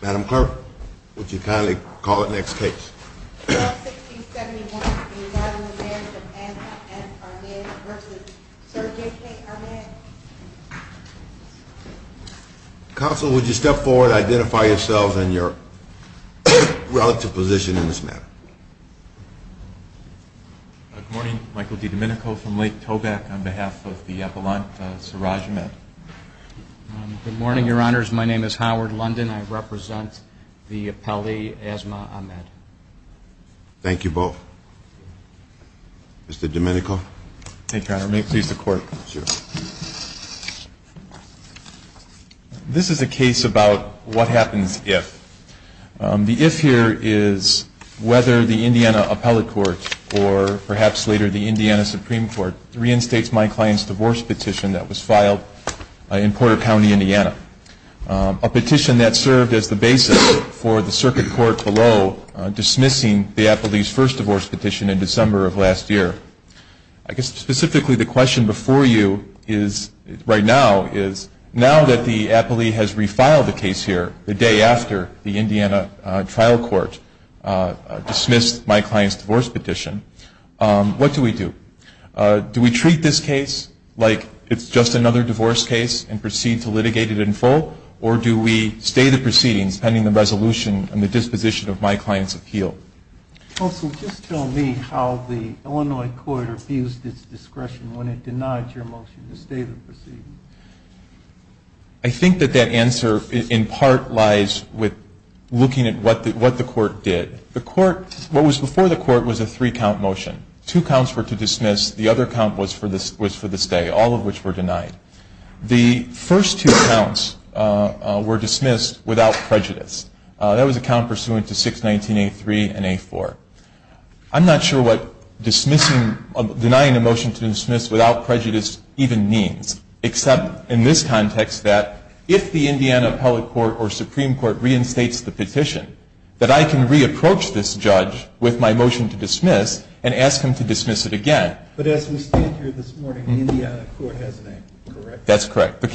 Madam Clerk, would you kindly call the next case? Bill 1671, the United States, Japan, and Ahmed v. Sir J.K. Ahmed. Counsel, would you step forward and identify yourselves and your relative position in this matter? Good morning. Michael DiDomenico from Lake Tobacco on behalf of the Appalachian Sirajimed. Good morning, Your Honors. My name is Howard London. I represent the appellee, Asma Ahmed. Thank you both. Mr. DiDomenico. Thank you, Your Honor. May it please the Court? Sure. This is a case about what happens if. The if here is whether the Indiana Appellate Court, or perhaps later the Indiana Supreme Court, reinstates my client's divorce petition that was filed in Porter County, Indiana. A petition that served as the basis for the circuit court below dismissing the appellee's first divorce petition in December of last year. I guess specifically the question before you right now is, now that the appellee has refiled the case here, the day after the Indiana trial court dismissed my client's divorce petition, what do we do? Do we treat this case like it's just another divorce case and proceed to litigate it in full, or do we stay the proceedings pending the resolution and the disposition of my client's appeal? Counsel, just tell me how the Illinois court abused its discretion when it denied your motion to stay the proceedings. I think that that answer in part lies with looking at what the court did. What was before the court was a three-count motion. Two counts were to dismiss. The other count was for the stay, all of which were denied. The first two counts were dismissed without prejudice. That was a count pursuant to 619A3 and A4. I'm not sure what denying a motion to dismiss without prejudice even means, except in this context that if the Indiana Appellate Court or Supreme Court reinstates the petition, that I can re-approach this judge with my motion to dismiss and ask him to dismiss it again. But as we stand here this morning, the Indiana court has a name, correct? That's correct. To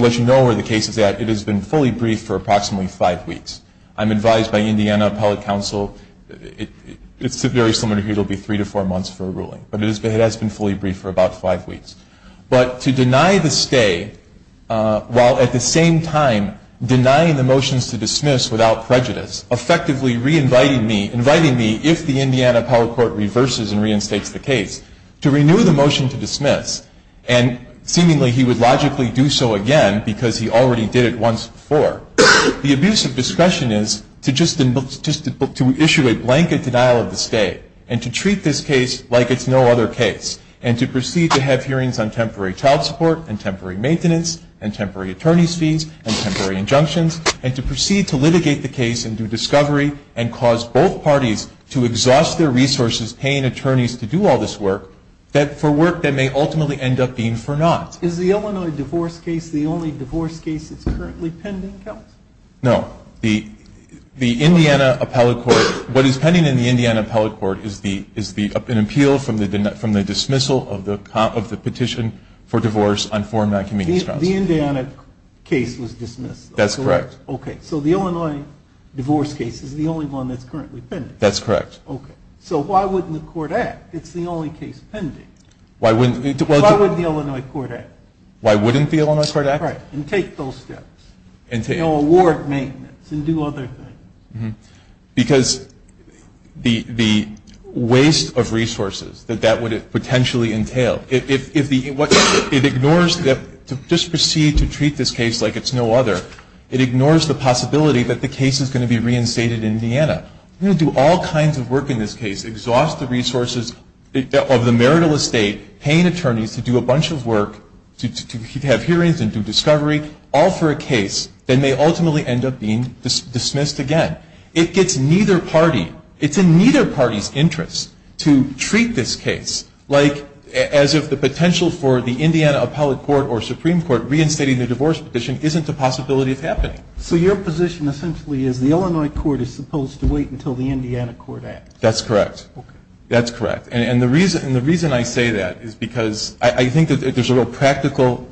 let you know where the case is at, it has been fully briefed for approximately five weeks. I'm advised by the Indiana Appellate Council, it's very similar to here, it will be three to four months for a ruling, but it has been fully briefed for about five weeks. But to deny the stay while at the same time denying the motions to dismiss without prejudice, effectively inviting me, if the Indiana Appellate Court reverses and reinstates the case, to renew the motion to dismiss, and seemingly he would logically do so again because he already did it once before, the abuse of discussion is to just issue a blanket denial of the stay and to treat this case like it's no other case and to proceed to have hearings on temporary child support and temporary maintenance and temporary attorney's fees and temporary injunctions and to proceed to litigate the case and do discovery and cause both parties to exhaust their resources paying attorneys to do all this work for work that may ultimately end up being for naught. Is the Illinois divorce case the only divorce case that's currently pending, Counsel? No. The Indiana Appellate Court, what is pending in the Indiana Appellate Court is an appeal from the dismissal of the petition for divorce on foreign non-community grounds. The Indiana case was dismissed. That's correct. Okay. So the Illinois divorce case is the only one that's currently pending. That's correct. Okay. So why wouldn't the court act? It's the only case pending. Why wouldn't the Illinois court act? Why wouldn't the Illinois court act? Right. And take those steps. Award maintenance and do other things. Because the waste of resources that that would potentially entail, it ignores that just proceed to treat this case like it's no other. It ignores the possibility that the case is going to be reinstated in Indiana. We're going to do all kinds of work in this case, exhaust the resources of the marital estate, paying attorneys to do a bunch of work to have hearings and do discovery, all for a case that may ultimately end up being dismissed again. It gets neither party. It's in neither party's interest to treat this case like as if the potential for the Indiana Appellate Court or Supreme Court reinstating the divorce petition isn't a possibility of happening. So your position essentially is the Illinois court is supposed to wait until the Indiana court acts. That's correct. Okay. That's correct. And the reason I say that is because I think that there's a real practical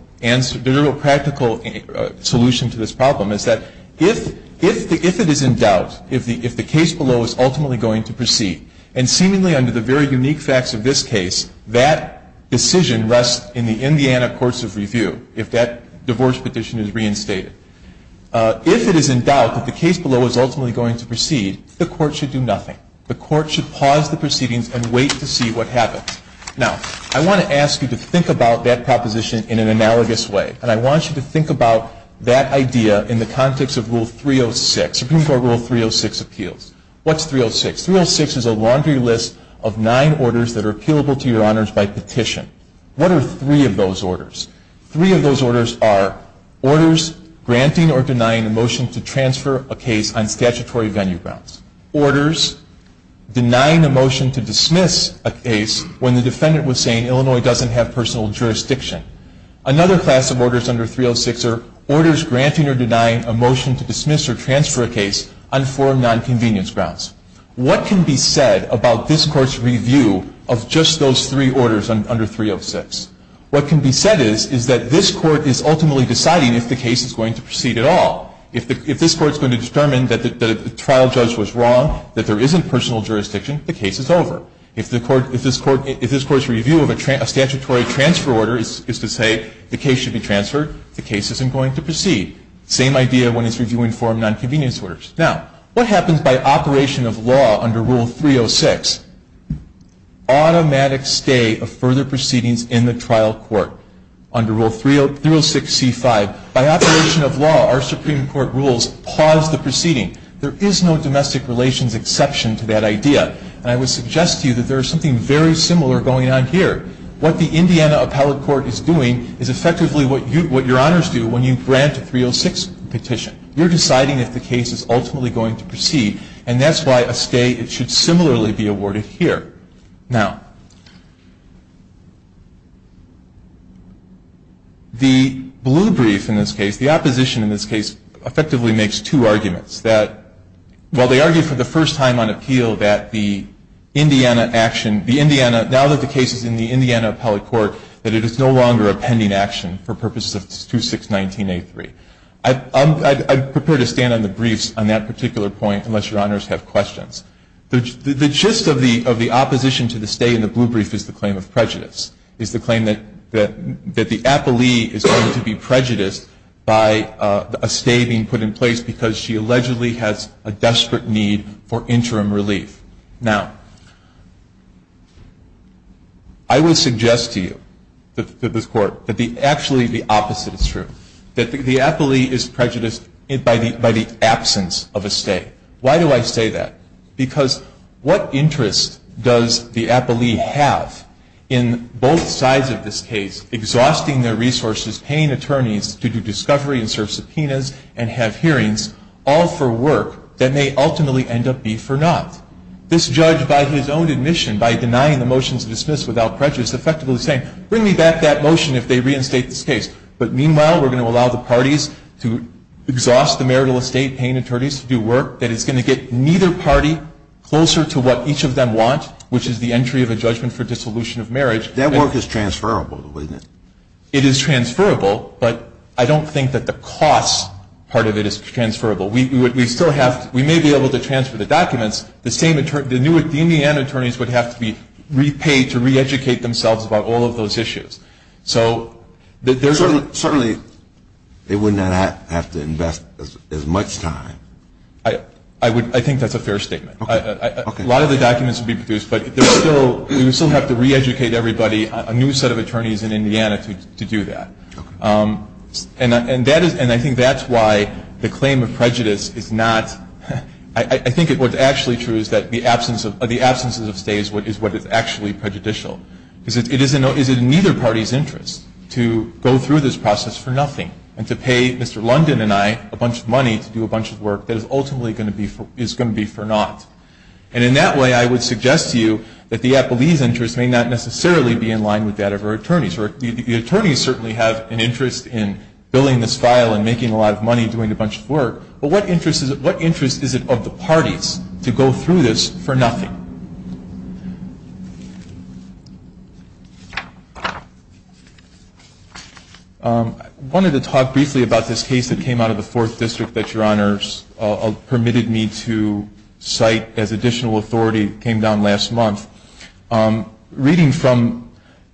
solution to this problem, is that if it is in doubt, if the case below is ultimately going to proceed, and seemingly under the very unique facts of this case, that decision rests in the Indiana courts of review if that divorce petition is reinstated. If it is in doubt that the case below is ultimately going to proceed, the court should do nothing. The court should pause the proceedings and wait to see what happens. Now, I want to ask you to think about that proposition in an analogous way. And I want you to think about that idea in the context of Rule 306, Supreme Court Rule 306 appeals. What's 306? 306 is a laundry list of nine orders that are appealable to your honors by petition. What are three of those orders? Three of those orders are orders granting or denying a motion to transfer a case on statutory venue grounds. Orders denying a motion to dismiss a case when the defendant was saying, Illinois doesn't have personal jurisdiction. Another class of orders under 306 are orders granting or denying a motion to dismiss or transfer a case on forum nonconvenience grounds. What can be said about this court's review of just those three orders under 306? What can be said is, is that this court is ultimately deciding if the case is going to proceed at all. If this court is going to determine that the trial judge was wrong, that there isn't personal jurisdiction, the case is over. If this court's review of a statutory transfer order is to say the case should be transferred, the case isn't going to proceed. Same idea when it's reviewing forum nonconvenience orders. Now, what happens by operation of law under Rule 306? Automatic stay of further proceedings in the trial court under Rule 306c5. Now, by operation of law, our Supreme Court rules pause the proceeding. There is no domestic relations exception to that idea. And I would suggest to you that there is something very similar going on here. What the Indiana Appellate Court is doing is effectively what your honors do when you grant a 306 petition. You're deciding if the case is ultimately going to proceed, and that's why a stay should similarly be awarded here. Now, the blue brief in this case, the opposition in this case, effectively makes two arguments. That while they argue for the first time on appeal that the Indiana action, now that the case is in the Indiana Appellate Court, that it is no longer a pending action for purposes of 2619A3. I'd prefer to stand on the briefs on that particular point unless your honors have questions. The gist of the opposition to the stay in the blue brief is the claim of prejudice, is the claim that the appellee is going to be prejudiced by a stay being put in place because she allegedly has a desperate need for interim relief. Now, I would suggest to you, to this Court, that actually the opposite is true, that the appellee is prejudiced by the absence of a stay. Why do I say that? Because what interest does the appellee have in both sides of this case exhausting their resources, paying attorneys to do discovery and serve subpoenas and have hearings, all for work that may ultimately end up being for naught? This judge, by his own admission, by denying the motion to dismiss without prejudice, effectively saying, bring me back that motion if they reinstate this case. But meanwhile, we're going to allow the parties to exhaust the marital estate, paying attorneys to do work that is going to get neither party closer to what each of them want, which is the entry of a judgment for dissolution of marriage. That work is transferable, isn't it? It is transferable, but I don't think that the cost part of it is transferable. We may be able to transfer the documents. The new Indiana attorneys would have to be repaid to reeducate themselves about all of those issues. Certainly they would not have to invest as much time. I think that's a fair statement. A lot of the documents would be produced, but we would still have to reeducate everybody, a new set of attorneys in Indiana to do that. And I think that's why the claim of prejudice is not – I think what's actually true is that the absence of stays is what is actually prejudicial. Because it is in neither party's interest to go through this process for nothing and to pay Mr. London and I a bunch of money to do a bunch of work that is ultimately going to be for naught. And in that way, I would suggest to you that the Applebee's interest may not necessarily be in line with that of our attorneys. The attorneys certainly have an interest in billing this file and making a lot of money doing a bunch of work, but what interest is it of the parties to go through this for nothing? Thank you. I wanted to talk briefly about this case that came out of the 4th District that Your Honors permitted me to cite as additional authority that came down last month. Reading from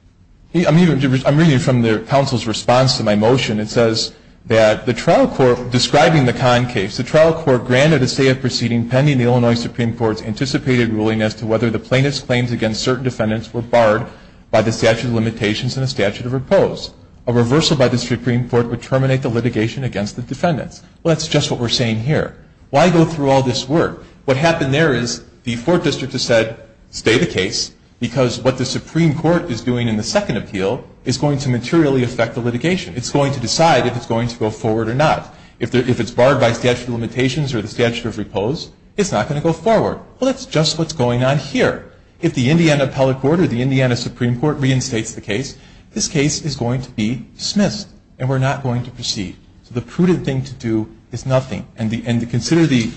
– I'm reading from the counsel's response to my motion. It says that the trial court – describing the Kahn case, the trial court granted a state of proceeding pending the Illinois Supreme Court's anticipated ruling as to whether the plaintiff's claims against certain defendants were barred by the statute of limitations and the statute of repose. A reversal by the Supreme Court would terminate the litigation against the defendants. Well, that's just what we're saying here. Why go through all this work? What happened there is the 4th District has said, stay the case, because what the Supreme Court is doing in the second appeal is going to materially affect the litigation. It's going to decide if it's going to go forward or not. If it's barred by statute of limitations or the statute of repose, it's not going to go forward. Well, that's just what's going on here. If the Indiana appellate court or the Indiana Supreme Court reinstates the case, this case is going to be dismissed and we're not going to proceed. So the prudent thing to do is nothing. And consider the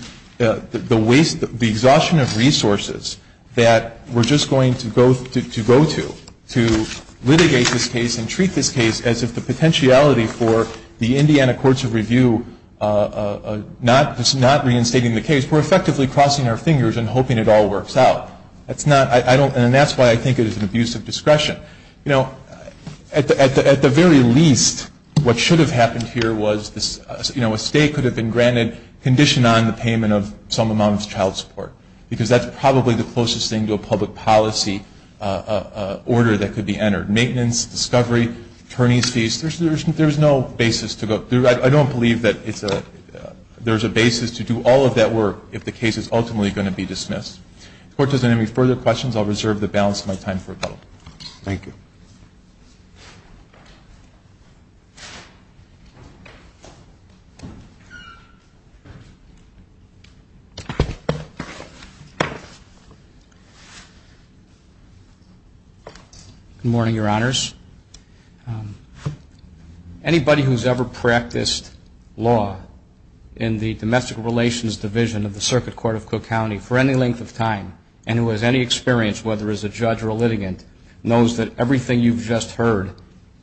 waste – the exhaustion of resources that we're just going to go to, to litigate this case and treat this case as if the potentiality for the Indiana Courts of Review not reinstating the case, we're effectively crossing our fingers and hoping it all works out. And that's why I think it is an abuse of discretion. You know, at the very least, what should have happened here was, you know, a state could have been granted condition on the payment of some amount of child support, because that's probably the closest thing to a public policy order that could be entered. Maintenance, discovery, attorney's fees, there's no basis to go – I don't believe that it's a – there's a basis to do all of that work if the case is ultimately going to be dismissed. If the Court doesn't have any further questions, I'll reserve the balance of my time for rebuttal. Thank you. Good morning, Your Honors. Anybody who's ever practiced law in the Domestic Relations Division of the Circuit Court of Cook County for any length of time and who has any experience, whether as a judge or a litigant, knows that everything you've just heard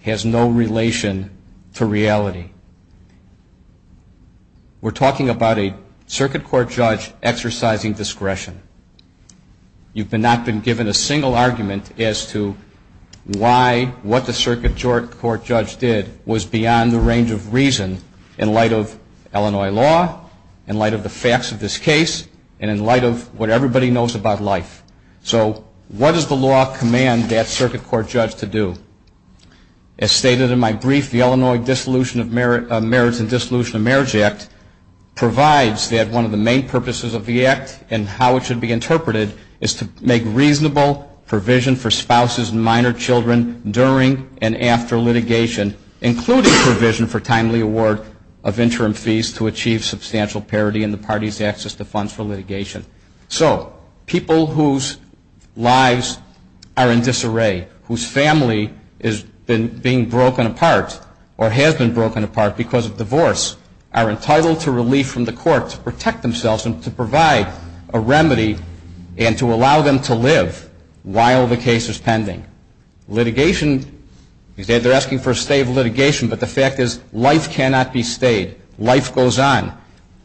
has no relation to reality. We're talking about a Circuit Court judge exercising discretion. You've not been given a single argument as to why what the Circuit Court judge did was beyond the range of reason in light of Illinois law, in light of the facts of this case, and in light of what everybody knows about life. So what does the law command that Circuit Court judge to do? As stated in my brief, the Illinois Dissolution of Merits and Dissolution of Marriage Act provides that one of the main purposes of the act and how it should be interpreted is to make reasonable provision for spouses and minor children during and after litigation, including provision for timely award of interim fees to achieve substantial parity in the party's access to funds for litigation. So people whose lives are in disarray, whose family is being broken apart or has been broken apart because of divorce, are entitled to relief from the court to protect themselves and to provide a remedy and to allow them to live while the case is pending. Litigation, they're asking for a stay of litigation, but the fact is life cannot be stayed. Life goes on.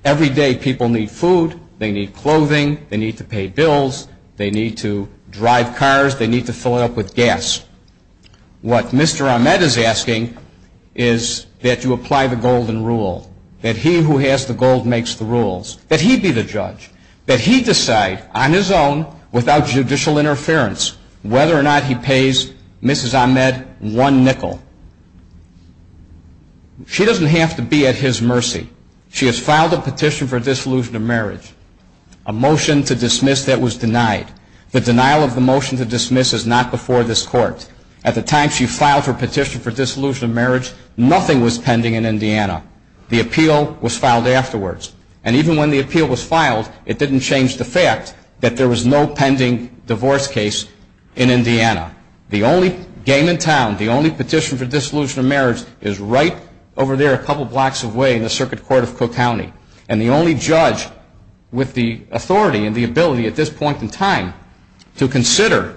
Every day people need food. They need clothing. They need to pay bills. They need to drive cars. They need to fill it up with gas. What Mr. Ahmed is asking is that you apply the golden rule, that he who has the gold makes the rules, that he be the judge, that he decide on his own without judicial interference whether or not he pays Mrs. Ahmed one nickel. She doesn't have to be at his mercy. She has filed a petition for dissolution of marriage, a motion to dismiss that was denied. The denial of the motion to dismiss is not before this court. At the time she filed her petition for dissolution of marriage, nothing was pending in Indiana. The appeal was filed afterwards, and even when the appeal was filed, it didn't change the fact that there was no pending divorce case in Indiana. The only game in town, the only petition for dissolution of marriage, is right over there a couple blocks away in the circuit court of Cook County, and the only judge with the authority and the ability at this point in time to consider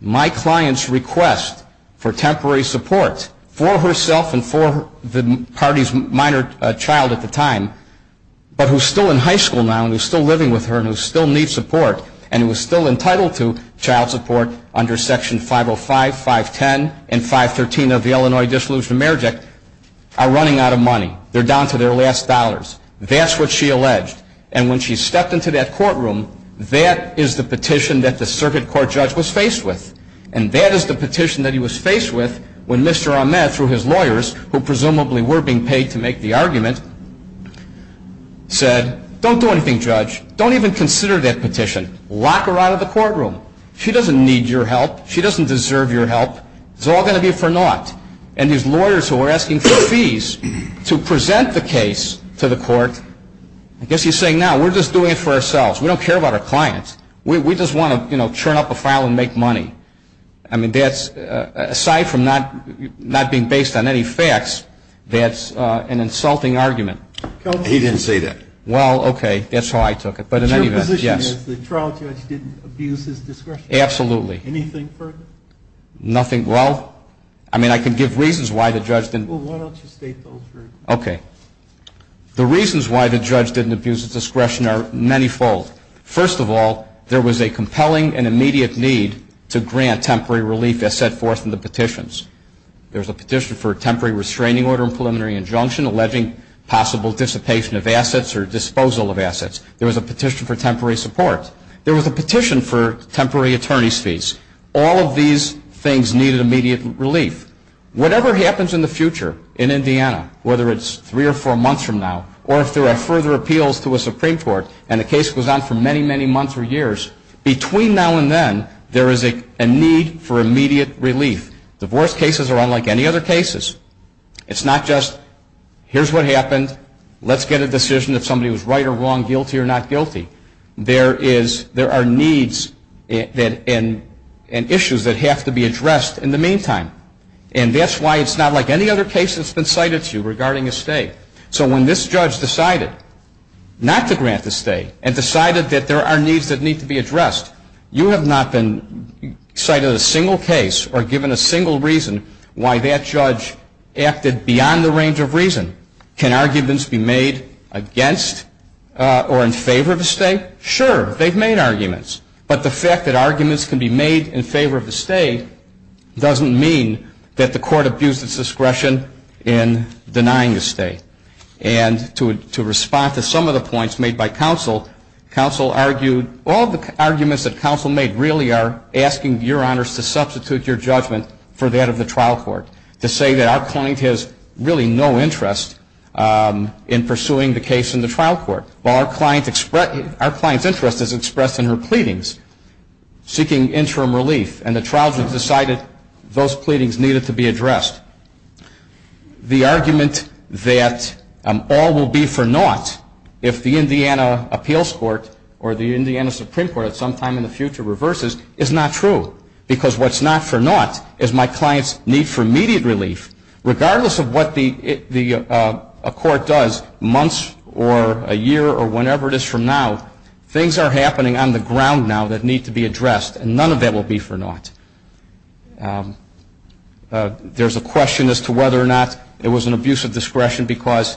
my client's request for temporary support for herself and for the party's minor child at the time, but who's still in high school now and who's still living with her and who still needs support and who is still entitled to child support under Section 505, 510, and 513 of the Illinois Dissolution of Marriage Act, are running out of money. They're down to their last dollars. That's what she alleged, and when she stepped into that courtroom, that is the petition that the circuit court judge was faced with, and that is the petition that he was faced with when Mr. Ahmed, through his lawyers, who presumably were being paid to make the argument, said, Don't do anything, Judge. Don't even consider that petition. Lock her out of the courtroom. She doesn't need your help. She doesn't deserve your help. It's all going to be for naught. And his lawyers, who were asking for fees to present the case to the court, I guess he's saying, Now, we're just doing it for ourselves. We don't care about our clients. We just want to, you know, churn up a file and make money. I mean, aside from not being based on any facts, that's an insulting argument. He didn't say that. Well, okay. That's how I took it. But in any event, yes. Your position is the trial judge didn't abuse his discretion? Absolutely. Anything further? Nothing. Well, I mean, I can give reasons why the judge didn't. Well, why don't you state those? Okay. The reasons why the judge didn't abuse his discretion are manyfold. First of all, there was a compelling and immediate need to grant temporary relief as set forth in the petitions. There's a petition for a temporary restraining order and preliminary injunction alleging possible dissipation of assets or disposal of assets. There was a petition for temporary support. There was a petition for temporary attorney's fees. All of these things needed immediate relief. Whatever happens in the future in Indiana, whether it's three or four months from now, or if there are further appeals to a Supreme Court and the case goes on for many, many months or years, between now and then there is a need for immediate relief. Divorce cases are unlike any other cases. It's not just here's what happened, let's get a decision if somebody was right or wrong, guilty or not guilty. There are needs and issues that have to be addressed in the meantime. And that's why it's not like any other case that's been cited to you regarding a stay. So when this judge decided not to grant the stay and decided that there are needs that need to be addressed, you have not been cited in a single case or given a single reason why that judge acted beyond the range of reason. Can arguments be made against or in favor of a stay? Sure, they've made arguments. But the fact that arguments can be made in favor of a stay doesn't mean that the court abused its discretion in denying a stay. And to respond to some of the points made by counsel, counsel argued all the arguments that counsel made really are asking your honors to substitute your judgment for that of the trial court to say that our client has really no interest in pursuing the case in the trial court while our client's interest is expressed in her pleadings seeking interim relief. And the trial judge decided those pleadings needed to be addressed. The argument that all will be for naught if the Indiana Appeals Court or the Indiana Supreme Court at some time in the future reverses is not true because what's not for naught is my client's need for immediate relief. Regardless of what a court does months or a year or whenever it is from now, things are happening on the ground now that need to be addressed, and none of that will be for naught. There's a question as to whether or not it was an abuse of discretion because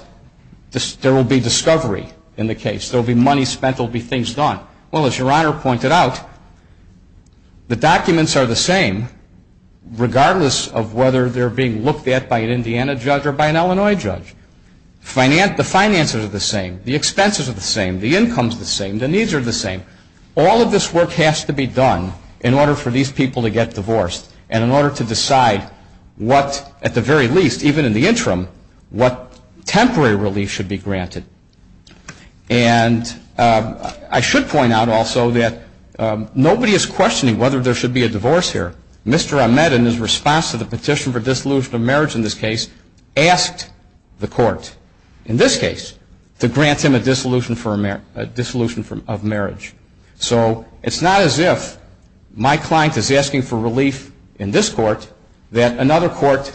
there will be discovery in the case. There will be money spent. There will be things done. Well, as your honor pointed out, the documents are the same regardless of whether they're being looked at by an Indiana judge or by an Illinois judge. The finances are the same. The expenses are the same. The income's the same. The needs are the same. All of this work has to be done in order for these people to get divorced and in order to decide what, at the very least, even in the interim, what temporary relief should be granted. And I should point out also that nobody is questioning whether there should be a divorce here. Mr. Ahmed, in his response to the petition for dissolution of marriage in this case, asked the court in this case to grant him a dissolution of marriage. So it's not as if my client is asking for relief in this court that another court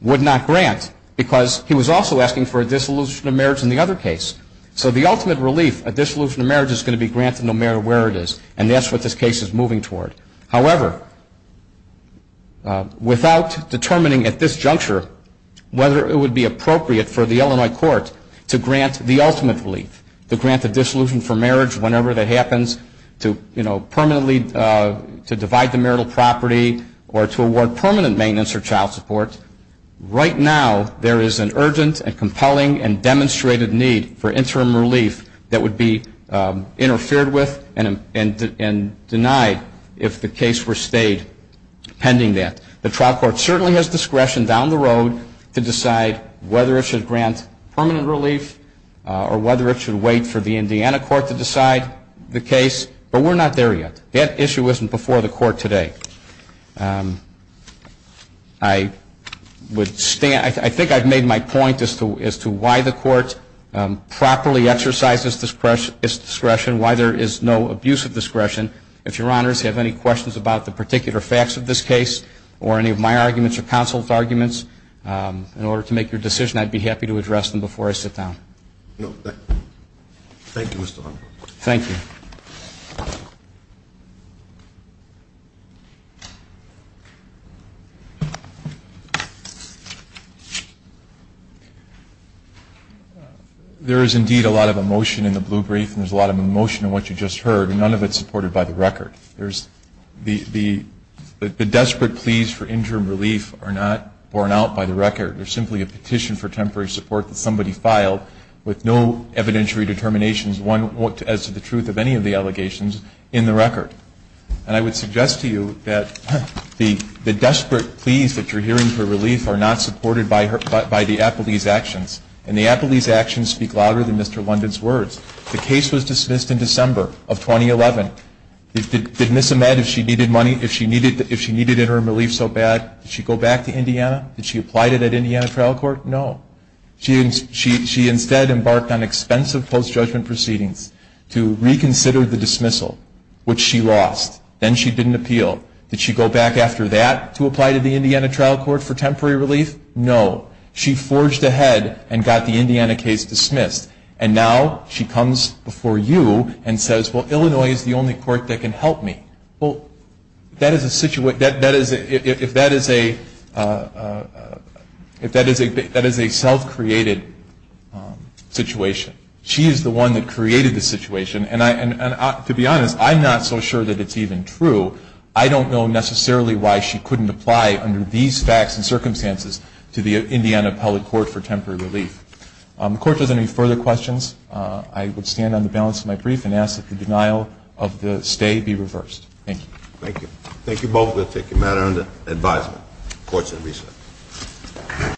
would not grant because he was also asking for a dissolution of marriage in the other case. So the ultimate relief, a dissolution of marriage, is going to be granted no matter where it is, and that's what this case is moving toward. However, without determining at this juncture whether it would be appropriate for the Illinois court to grant the ultimate relief, to grant the dissolution for marriage whenever that happens, to permanently divide the marital property or to award permanent maintenance or child support, right now there is an urgent and compelling and demonstrated need for interim relief that would be interfered with and denied if the case were stayed pending that. The trial court certainly has discretion down the road to decide whether it should grant permanent relief or whether it should wait for the Indiana court to decide the case, but we're not there yet. That issue isn't before the court today. I think I've made my point as to why the court properly exercises its discretion, why there is no abuse of discretion. If Your Honors have any questions about the particular facts of this case or any of my arguments or counsel's arguments, in order to make your decision, I'd be happy to address them before I sit down. Thank you, Mr. Arnold. Thank you. Thank you. There is indeed a lot of emotion in the blue brief and there's a lot of emotion in what you just heard and none of it is supported by the record. The desperate pleas for interim relief are not borne out by the record. They're simply a petition for temporary support that somebody filed with no evidentiary determinations. One, as to the truth of any of the allegations, in the record. And I would suggest to you that the desperate pleas that you're hearing for relief are not supported by the Appleby's actions. And the Appleby's actions speak louder than Mr. London's words. The case was dismissed in December of 2011. Did Ms. Ahmed, if she needed interim relief so bad, did she go back to Indiana? Did she apply to that Indiana trial court? No. She instead embarked on expensive post-judgment proceedings to reconsider the dismissal, which she lost. Then she didn't appeal. Did she go back after that to apply to the Indiana trial court for temporary relief? No. She forged ahead and got the Indiana case dismissed. And now she comes before you and says, well, Illinois is the only court that can help me. Well, if that is a self-created situation, she is the one that created the situation. And to be honest, I'm not so sure that it's even true. I don't know necessarily why she couldn't apply under these facts and circumstances to the Indiana public court for temporary relief. If the court has any further questions, I would stand on the balance of my brief and ask that the denial of the stay be reversed. Thank you. Thank you. Thank you both. We'll take your matter under advisement. Court is adjourned.